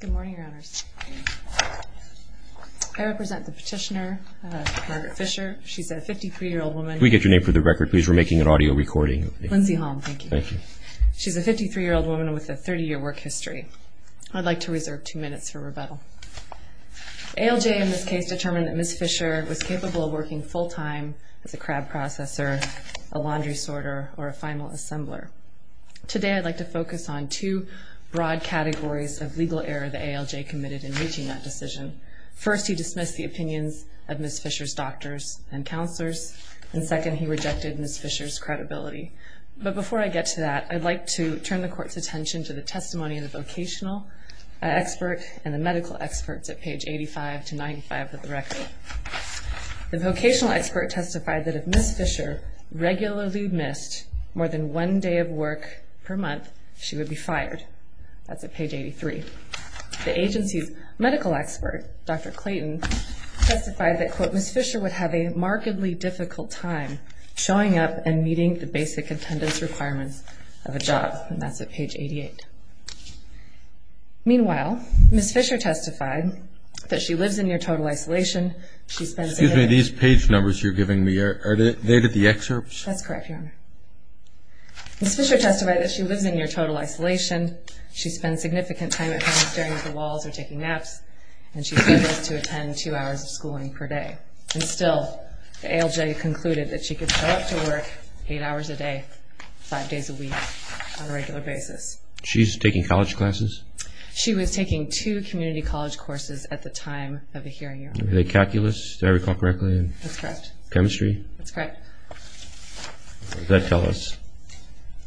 Good morning, Your Honors. I represent the petitioner, Margaret Fisher. She's a 53-year-old woman. Could we get your name for the record, please? We're making an audio recording. Lindsay Holm, thank you. Thank you. She's a 53-year-old woman with a 30-year work history. I'd like to reserve two minutes for rebuttal. ALJ in this case determined that Ms. Fisher was capable of working full-time as a crab processor, a laundry sorter, or a final assembler. Today, I'd like to focus on two broad categories of legal error that ALJ committed in reaching that decision. First, he dismissed the opinions of Ms. Fisher's doctors and counselors. And second, he rejected Ms. Fisher's credibility. But before I get to that, I'd like to turn the Court's attention to the testimony of the vocational expert and the medical experts at page 85-95 of the record. The vocational expert testified that if Ms. Fisher regularly missed more than one day of work per month, she would be fired. That's at page 83. The agency's medical expert, Dr. Clayton, testified that, quote, Ms. Fisher would have a markedly difficult time showing up and meeting the basic attendance requirements of a job. And that's at page 88. Meanwhile, Ms. Fisher testified that she lives in near-total isolation. She spends a day- Excuse me, these page numbers you're giving me, are they the excerpts? That's correct, Your Honor. Ms. Fisher testified that she lives in near-total isolation. She spends significant time at home staring at the walls or taking naps. And she struggles to attend two hours of schooling per day. And still, ALJ concluded that she could show up to work eight hours a day, five days a week, on a regular basis. She's taking college classes? She was taking two community college courses at the time of the hearing, Your Honor. Are they calculus, did I recall correctly? That's correct. Chemistry? That's correct. What does that tell us?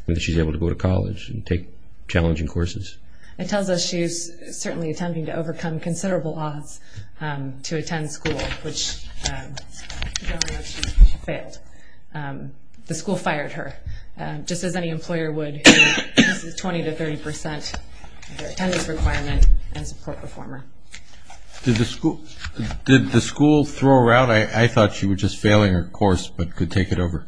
That she's able to go to college and take challenging courses? It tells us she's certainly attempting to overcome considerable odds to attend school, which she failed. The school fired her. Just as any employer would. This is 20 to 30 percent of their attendance requirement as a court performer. Did the school throw her out? I thought she was just failing her course but could take it over.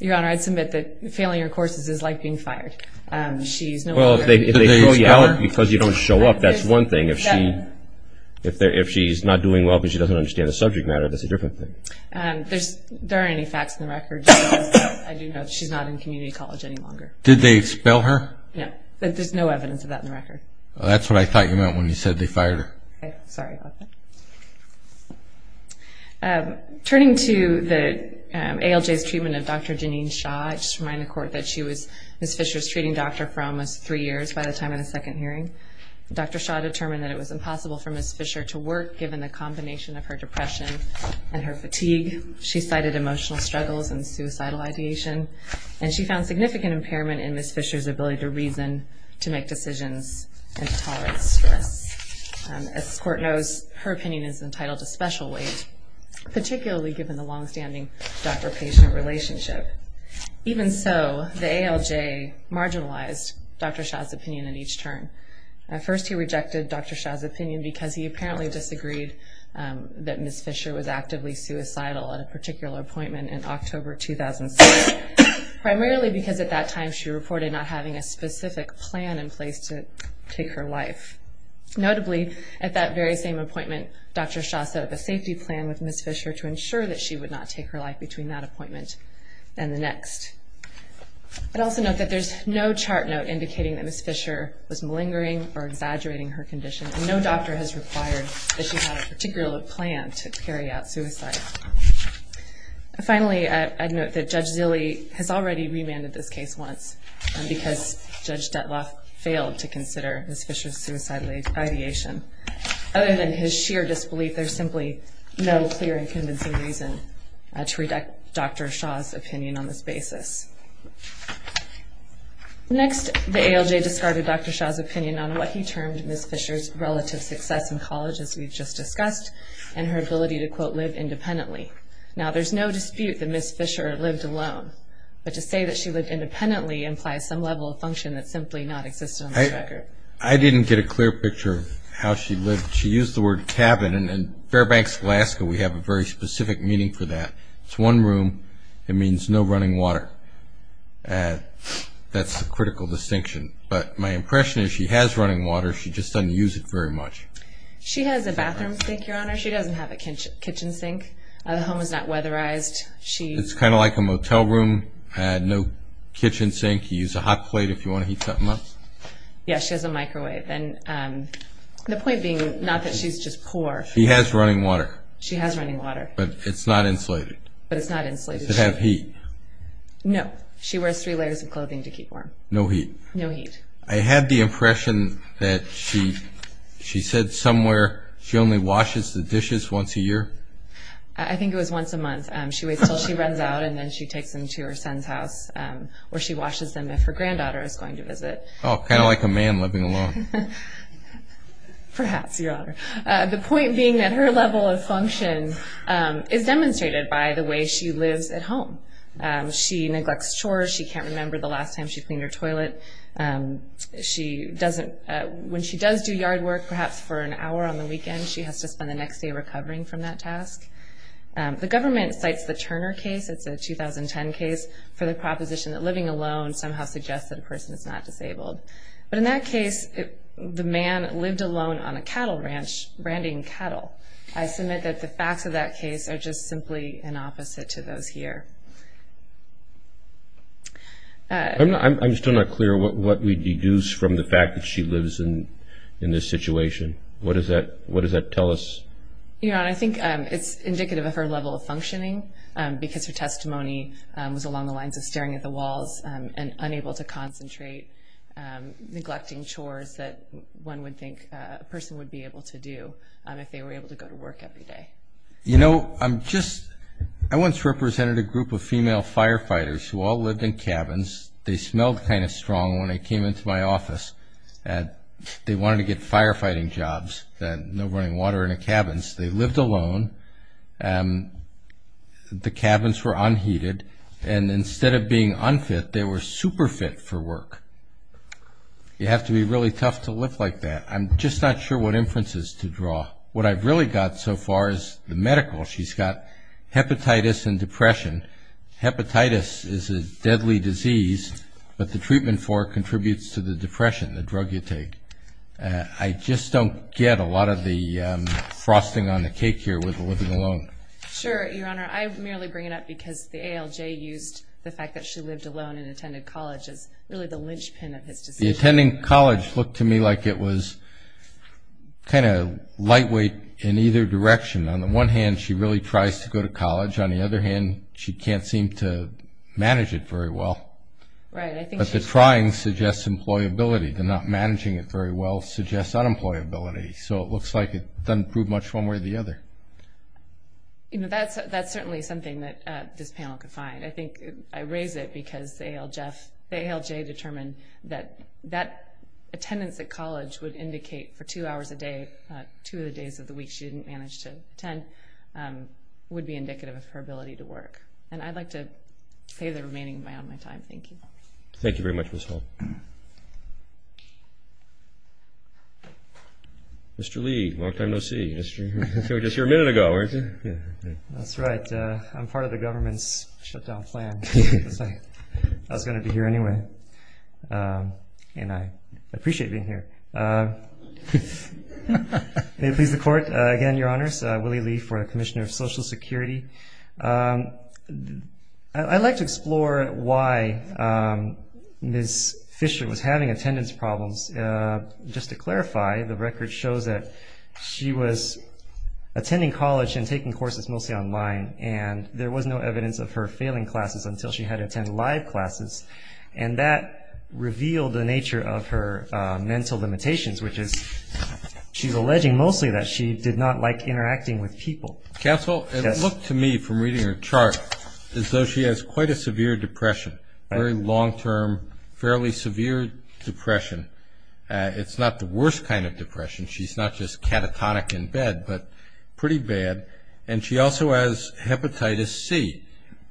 Your Honor, I'd submit that failing your courses is like being fired. Well, if they throw you out because you don't show up, that's one thing. If she's not doing well because she doesn't understand the subject matter, that's a different thing. There aren't any facts in the record. I do know that she's not in community college any longer. Did they expel her? No. There's no evidence of that in the record. That's what I thought you meant when you said they fired her. Sorry about that. Turning to ALJ's treatment of Dr. Janine Shaw, I just remind the Court that Ms. Fisher was treating Dr. Fromm for almost three years by the time of the second hearing. Dr. Shaw determined that it was impossible for Ms. Fisher to work given the combination of her depression and her fatigue. She cited emotional struggles and suicidal ideation, and she found significant impairment in Ms. Fisher's ability to reason, to make decisions, and to tolerate stress. As this Court knows, her opinion is entitled to special weight, particularly given the longstanding doctor-patient relationship. Even so, the ALJ marginalized Dr. Shaw's opinion at each turn. At first, he rejected Dr. Shaw's opinion because he apparently disagreed that Ms. Fisher was actively suicidal at a particular appointment in October 2006, primarily because at that time she reported not having a specific plan in place to take her life. Notably, at that very same appointment, Dr. Shaw set up a safety plan with Ms. Fisher to ensure that she would not take her life between that appointment and the next. I'd also note that there's no chart note indicating that Ms. Fisher was malingering or exaggerating her condition, and no doctor has required that she have a particular plan to carry out suicide. Finally, I'd note that Judge Zille has already remanded this case once because Judge Detloff failed to consider Ms. Fisher's suicidal ideation. Other than his sheer disbelief, there's simply no clear and convincing reason to reject Dr. Shaw's opinion on this basis. Next, the ALJ discarded Dr. Shaw's opinion on what he termed Ms. Fisher's relative success in college, as we've just discussed, and her ability to, quote, live independently. Now, there's no dispute that Ms. Fisher lived alone, but to say that she lived independently implies some level of function that simply does not exist on this record. I didn't get a clear picture of how she lived. She used the word cabin, and in Fairbanks, Alaska, we have a very specific meaning for that. It's one room. It means no running water. That's the critical distinction. But my impression is she has running water. She just doesn't use it very much. She has a bathroom sink, Your Honor. She doesn't have a kitchen sink. The home is not weatherized. It's kind of like a motel room, no kitchen sink. You use a hot plate if you want to heat something up. Yes, she has a microwave. The point being not that she's just poor. She has running water. She has running water. But it's not insulated. But it's not insulated. Does it have heat? No. She wears three layers of clothing to keep warm. No heat. No heat. I had the impression that she said somewhere she only washes the dishes once a year. I think it was once a month. She waits until she runs out, and then she takes them to her son's house where she washes them if her granddaughter is going to visit. Oh, kind of like a man living alone. Perhaps, Your Honor. The point being that her level of function is demonstrated by the way she lives at home. She neglects chores. She can't remember the last time she cleaned her toilet. When she does do yard work, perhaps for an hour on the weekend, she has to spend the next day recovering from that task. The government cites the Turner case, it's a 2010 case, for the proposition that living alone somehow suggests that a person is not disabled. But in that case, the man lived alone on a cattle ranch, branding cattle. I submit that the facts of that case are just simply an opposite to those here. I'm still not clear what we deduce from the fact that she lives in this situation. What does that tell us? Your Honor, I think it's indicative of her level of functioning because her testimony was along the lines of staring at the walls and unable to concentrate, neglecting chores that one would think a person would be able to do if they were able to go to work every day. You know, I once represented a group of female firefighters who all lived in cabins. They wanted to get firefighting jobs, no running water in the cabins. They lived alone. The cabins were unheated. And instead of being unfit, they were super fit for work. You have to be really tough to live like that. I'm just not sure what inferences to draw. What I've really got so far is the medical. She's got hepatitis and depression. Hepatitis is a deadly disease, but the treatment for it contributes to the depression, the drug you take. I just don't get a lot of the frosting on the cake here with the living alone. Sure, Your Honor. I merely bring it up because the ALJ used the fact that she lived alone and attended college as really the linchpin of his decision. The attending college looked to me like it was kind of lightweight in either direction. On the one hand, she really tries to go to college. On the other hand, she can't seem to manage it very well. But the trying suggests employability. The not managing it very well suggests unemployability. So it looks like it doesn't prove much one way or the other. That's certainly something that this panel could find. I think I raise it because the ALJ determined that that attendance at college would indicate for two hours a day, two of the days of the week she didn't manage to attend, would be indicative of her ability to work. And I'd like to pay the remaining of my own time. Thank you. Thank you very much, Ms. Holt. Mr. Lee, long time no see. You were just here a minute ago, weren't you? That's right. I'm part of the government's shutdown plan. I was going to be here anyway, and I appreciate being here. May it please the Court. Again, Your Honors, Willie Lee for the Commissioner of Social Security. I'd like to explore why Ms. Fisher was having attendance problems. Just to clarify, the record shows that she was attending college and taking courses mostly online, and there was no evidence of her failing classes until she had attended live classes. And that revealed the nature of her mental limitations, which is she's alleging mostly that she did not like interacting with people. Counsel, it looked to me from reading her chart as though she has quite a severe depression, very long-term, fairly severe depression. It's not the worst kind of depression. She's not just catatonic in bed, but pretty bad. And she also has hepatitis C.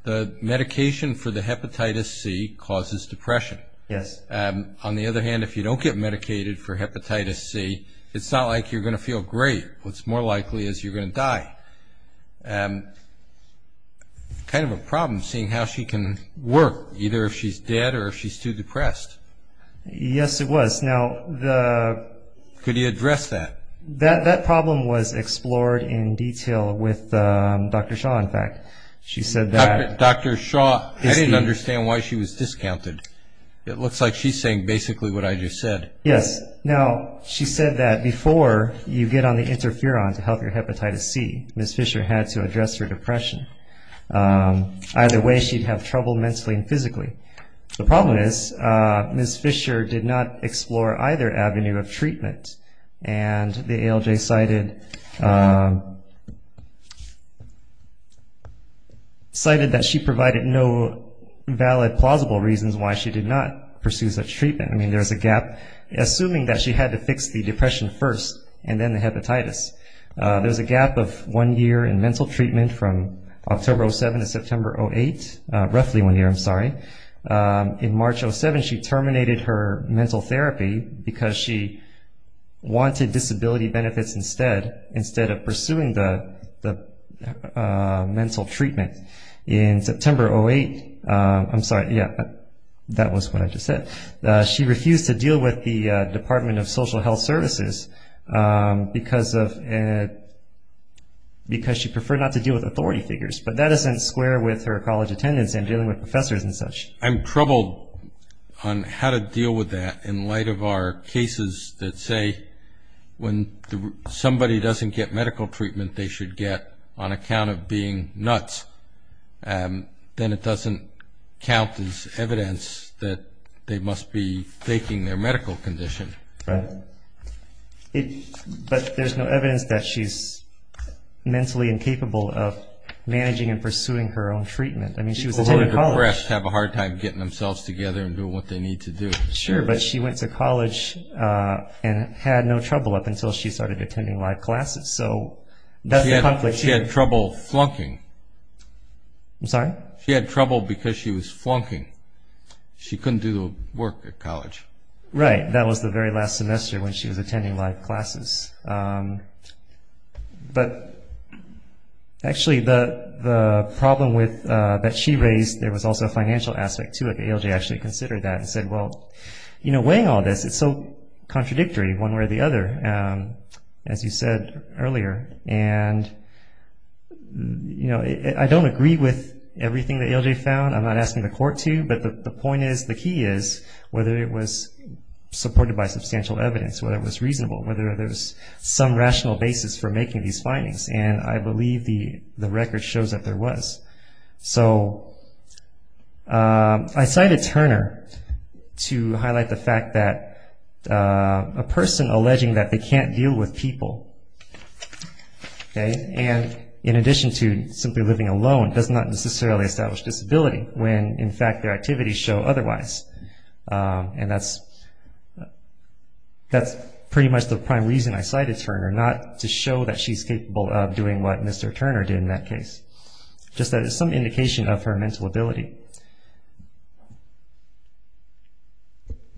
The medication for the hepatitis C causes depression. Yes. On the other hand, if you don't get medicated for hepatitis C, it's not like you're going to feel great. What's more likely is you're going to die. Kind of a problem seeing how she can work, either if she's dead or if she's too depressed. Yes, it was. Could you address that? That problem was explored in detail with Dr. Shaw, in fact. Dr. Shaw, I didn't understand why she was discounted. It looks like she's saying basically what I just said. Yes. Now, she said that before you get on the interferon to help your hepatitis C, Ms. Fisher had to address her depression. Either way, she'd have trouble mentally and physically. And the ALJ cited that she provided no valid plausible reasons why she did not pursue such treatment. I mean, there's a gap. Assuming that she had to fix the depression first and then the hepatitis, there's a gap of one year in mental treatment from October 2007 to September 2008, roughly one year, I'm sorry. In March 2007, she terminated her mental therapy because she wanted disability benefits instead, instead of pursuing the mental treatment. In September 2008, I'm sorry. Yes, that was what I just said. She refused to deal with the Department of Social Health Services because she preferred not to deal with authority figures. But that doesn't square with her college attendance and dealing with professors and such. I'm troubled on how to deal with that in light of our cases that say when somebody doesn't get medical treatment, they should get on account of being nuts. Then it doesn't count as evidence that they must be faking their medical condition. But there's no evidence that she's mentally incapable of managing and pursuing her own treatment. I mean, she was attending college. People who are depressed have a hard time getting themselves together and doing what they need to do. Sure, but she went to college and had no trouble up until she started attending live classes. So that's the conflict here. She had trouble flunking. I'm sorry? She had trouble because she was flunking. She couldn't do the work at college. Right. That was the very last semester when she was attending live classes. But actually, the problem that she raised, there was also a financial aspect to it. ALJ actually considered that and said, well, weighing all this, it's so contradictory one way or the other, as you said earlier. And I don't agree with everything that ALJ found. I'm not asking the court to. But the point is, the key is, whether it was supported by substantial evidence, whether it was reasonable, whether there was some rational basis for making these findings. And I believe the record shows that there was. So I cited Turner to highlight the fact that a person alleging that they can't deal with people, and in addition to simply living alone, does not necessarily establish disability when, in fact, their activities show otherwise. And that's pretty much the prime reason I cited Turner, not to show that she's capable of doing what Mr. Turner did in that case, just that it's some indication of her mental ability.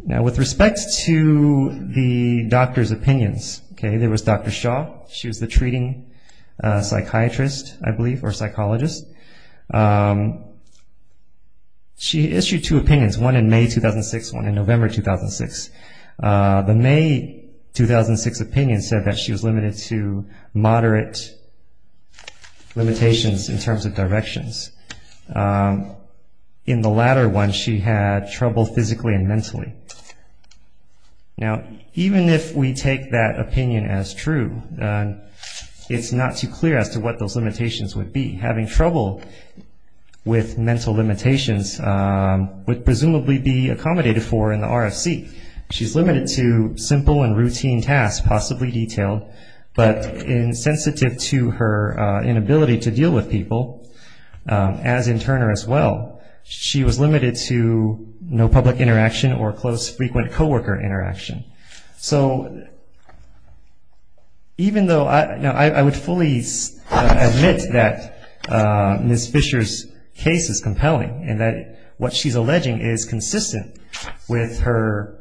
Now, with respect to the doctor's opinions, there was Dr. Shaw. She was the treating psychiatrist, I believe, or psychologist. She issued two opinions, one in May 2006, one in November 2006. The May 2006 opinion said that she was limited to moderate limitations in terms of directions. In the latter one, she had trouble physically and mentally. Now, even if we take that opinion as true, it's not too clear as to what those limitations would be. Having trouble with mental limitations would presumably be accommodated for in the RFC. She's limited to simple and routine tasks, possibly detailed, but sensitive to her inability to deal with people, as in Turner as well, she was limited to no public interaction or close, frequent co-worker interaction. So even though I would fully admit that Ms. Fisher's case is compelling and that what she's alleging is consistent with her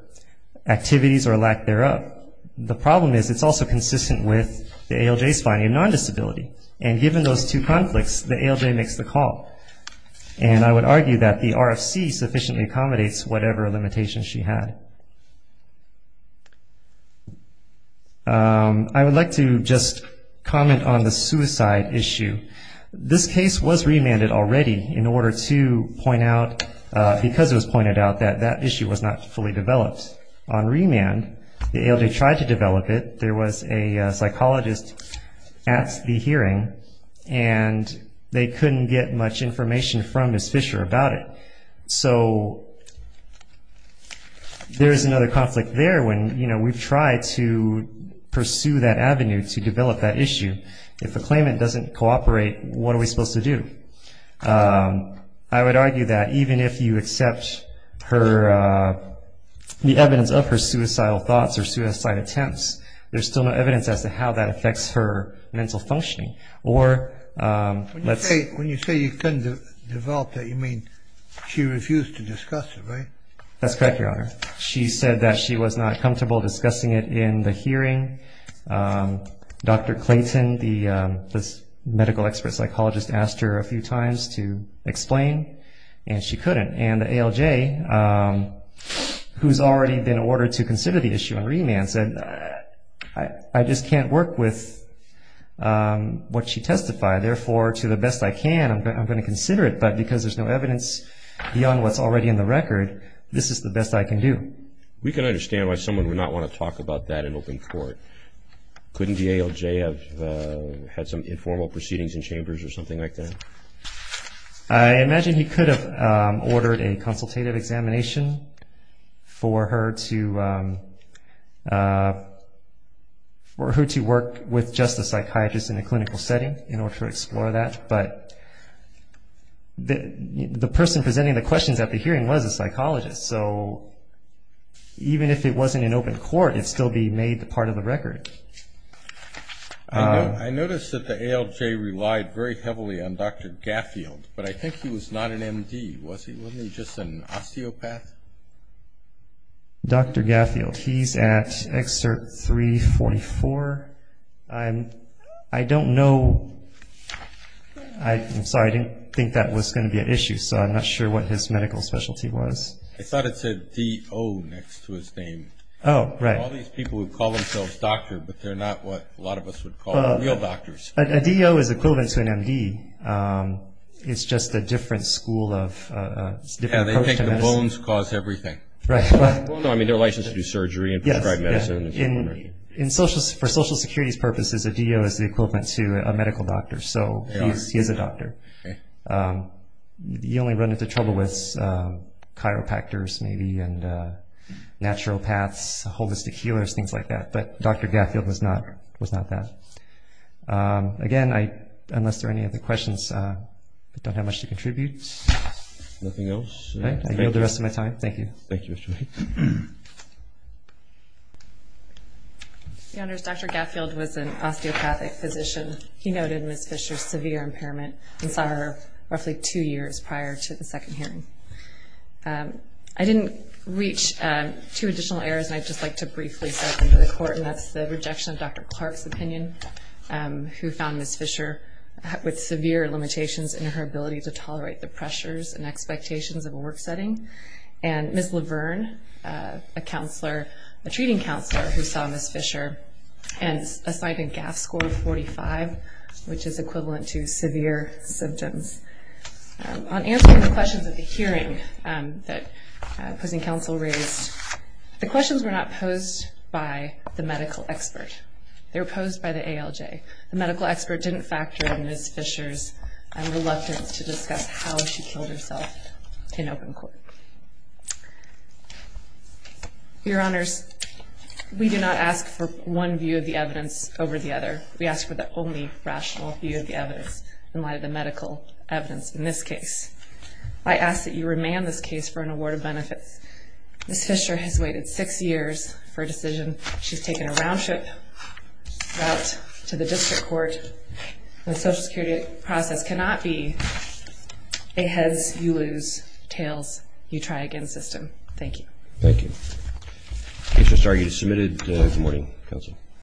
activities or lack thereof, the problem is it's also consistent with the ALJ's finding of non-disability. And given those two conflicts, the ALJ makes the call. And I would argue that the RFC sufficiently accommodates whatever limitations she had. I would like to just comment on the suicide issue. This case was remanded already in order to point out, because it was pointed out, that that issue was not fully developed. On remand, the ALJ tried to develop it. There was a psychologist at the hearing, and they couldn't get much information from Ms. Fisher about it. So there is another conflict there when, you know, we've tried to pursue that avenue to develop that issue. If a claimant doesn't cooperate, what are we supposed to do? I would argue that even if you accept the evidence of her suicidal thoughts or suicide attempts, there's still no evidence as to how that affects her mental functioning. When you say you couldn't develop it, you mean she refused to discuss it, right? That's correct, Your Honor. She said that she was not comfortable discussing it in the hearing. Dr. Clayton, the medical expert psychologist, asked her a few times to explain, and she couldn't. And the ALJ, who's already been ordered to consider the issue on remand, said, I just can't work with what she testified. Therefore, to the best I can, I'm going to consider it. But because there's no evidence beyond what's already in the record, this is the best I can do. We can understand why someone would not want to talk about that in open court. Couldn't the ALJ have had some informal proceedings in chambers or something like that? I imagine he could have ordered a consultative examination for her to work with just a psychiatrist in a clinical setting in order to explore that. But the person presenting the questions at the hearing was a psychologist. So even if it wasn't in open court, it would still be made part of the record. I noticed that the ALJ relied very heavily on Dr. Gaffield, but I think he was not an M.D., was he? Wasn't he just an osteopath? Dr. Gaffield, he's at Excerpt 344. I don't know. I'm sorry, I didn't think that was going to be an issue, so I'm not sure what his medical specialty was. I thought it said D.O. next to his name. Oh, right. All these people who call themselves doctor, but they're not what a lot of us would call real doctors. A D.O. is equivalent to an M.D. It's just a different school of different approach to medicine. Bones cause everything. I mean, they're licensed to do surgery and prescribe medicine. For Social Security's purposes, a D.O. is the equivalent to a medical doctor, so he is a doctor. You only run into trouble with chiropractors, maybe, and naturopaths, holistic healers, things like that. But Dr. Gaffield was not that. Again, unless there are any other questions, I don't have much to contribute. Nothing else? I yield the rest of my time. Thank you. Thank you, Mr. White. Your Honors, Dr. Gaffield was an osteopathic physician. He noted Ms. Fisher's severe impairment and saw her roughly two years prior to the second hearing. I didn't reach two additional errors, and I'd just like to briefly set them to the court, and that's the rejection of Dr. Clark's opinion, who found Ms. Fisher with severe limitations in her ability to tolerate the pressures and expectations of a work setting, and Ms. Laverne, a counselor, a treating counselor, who saw Ms. Fisher and assigned a GAF score of 45, which is equivalent to severe symptoms. On answering the questions at the hearing that opposing counsel raised, the questions were not posed by the medical expert. They were posed by the ALJ. The medical expert didn't factor in Ms. Fisher's reluctance to discuss how she killed herself in open court. Your Honors, we do not ask for one view of the evidence over the other. We ask for the only rational view of the evidence in light of the medical evidence in this case. I ask that you remand this case for an award of benefits. Ms. Fisher has waited six years for a decision. She's taken a round-trip route to the district court. The Social Security process cannot be a heads-you-lose, tails-you-try-again system. Thank you. Thank you. The case was submitted this morning.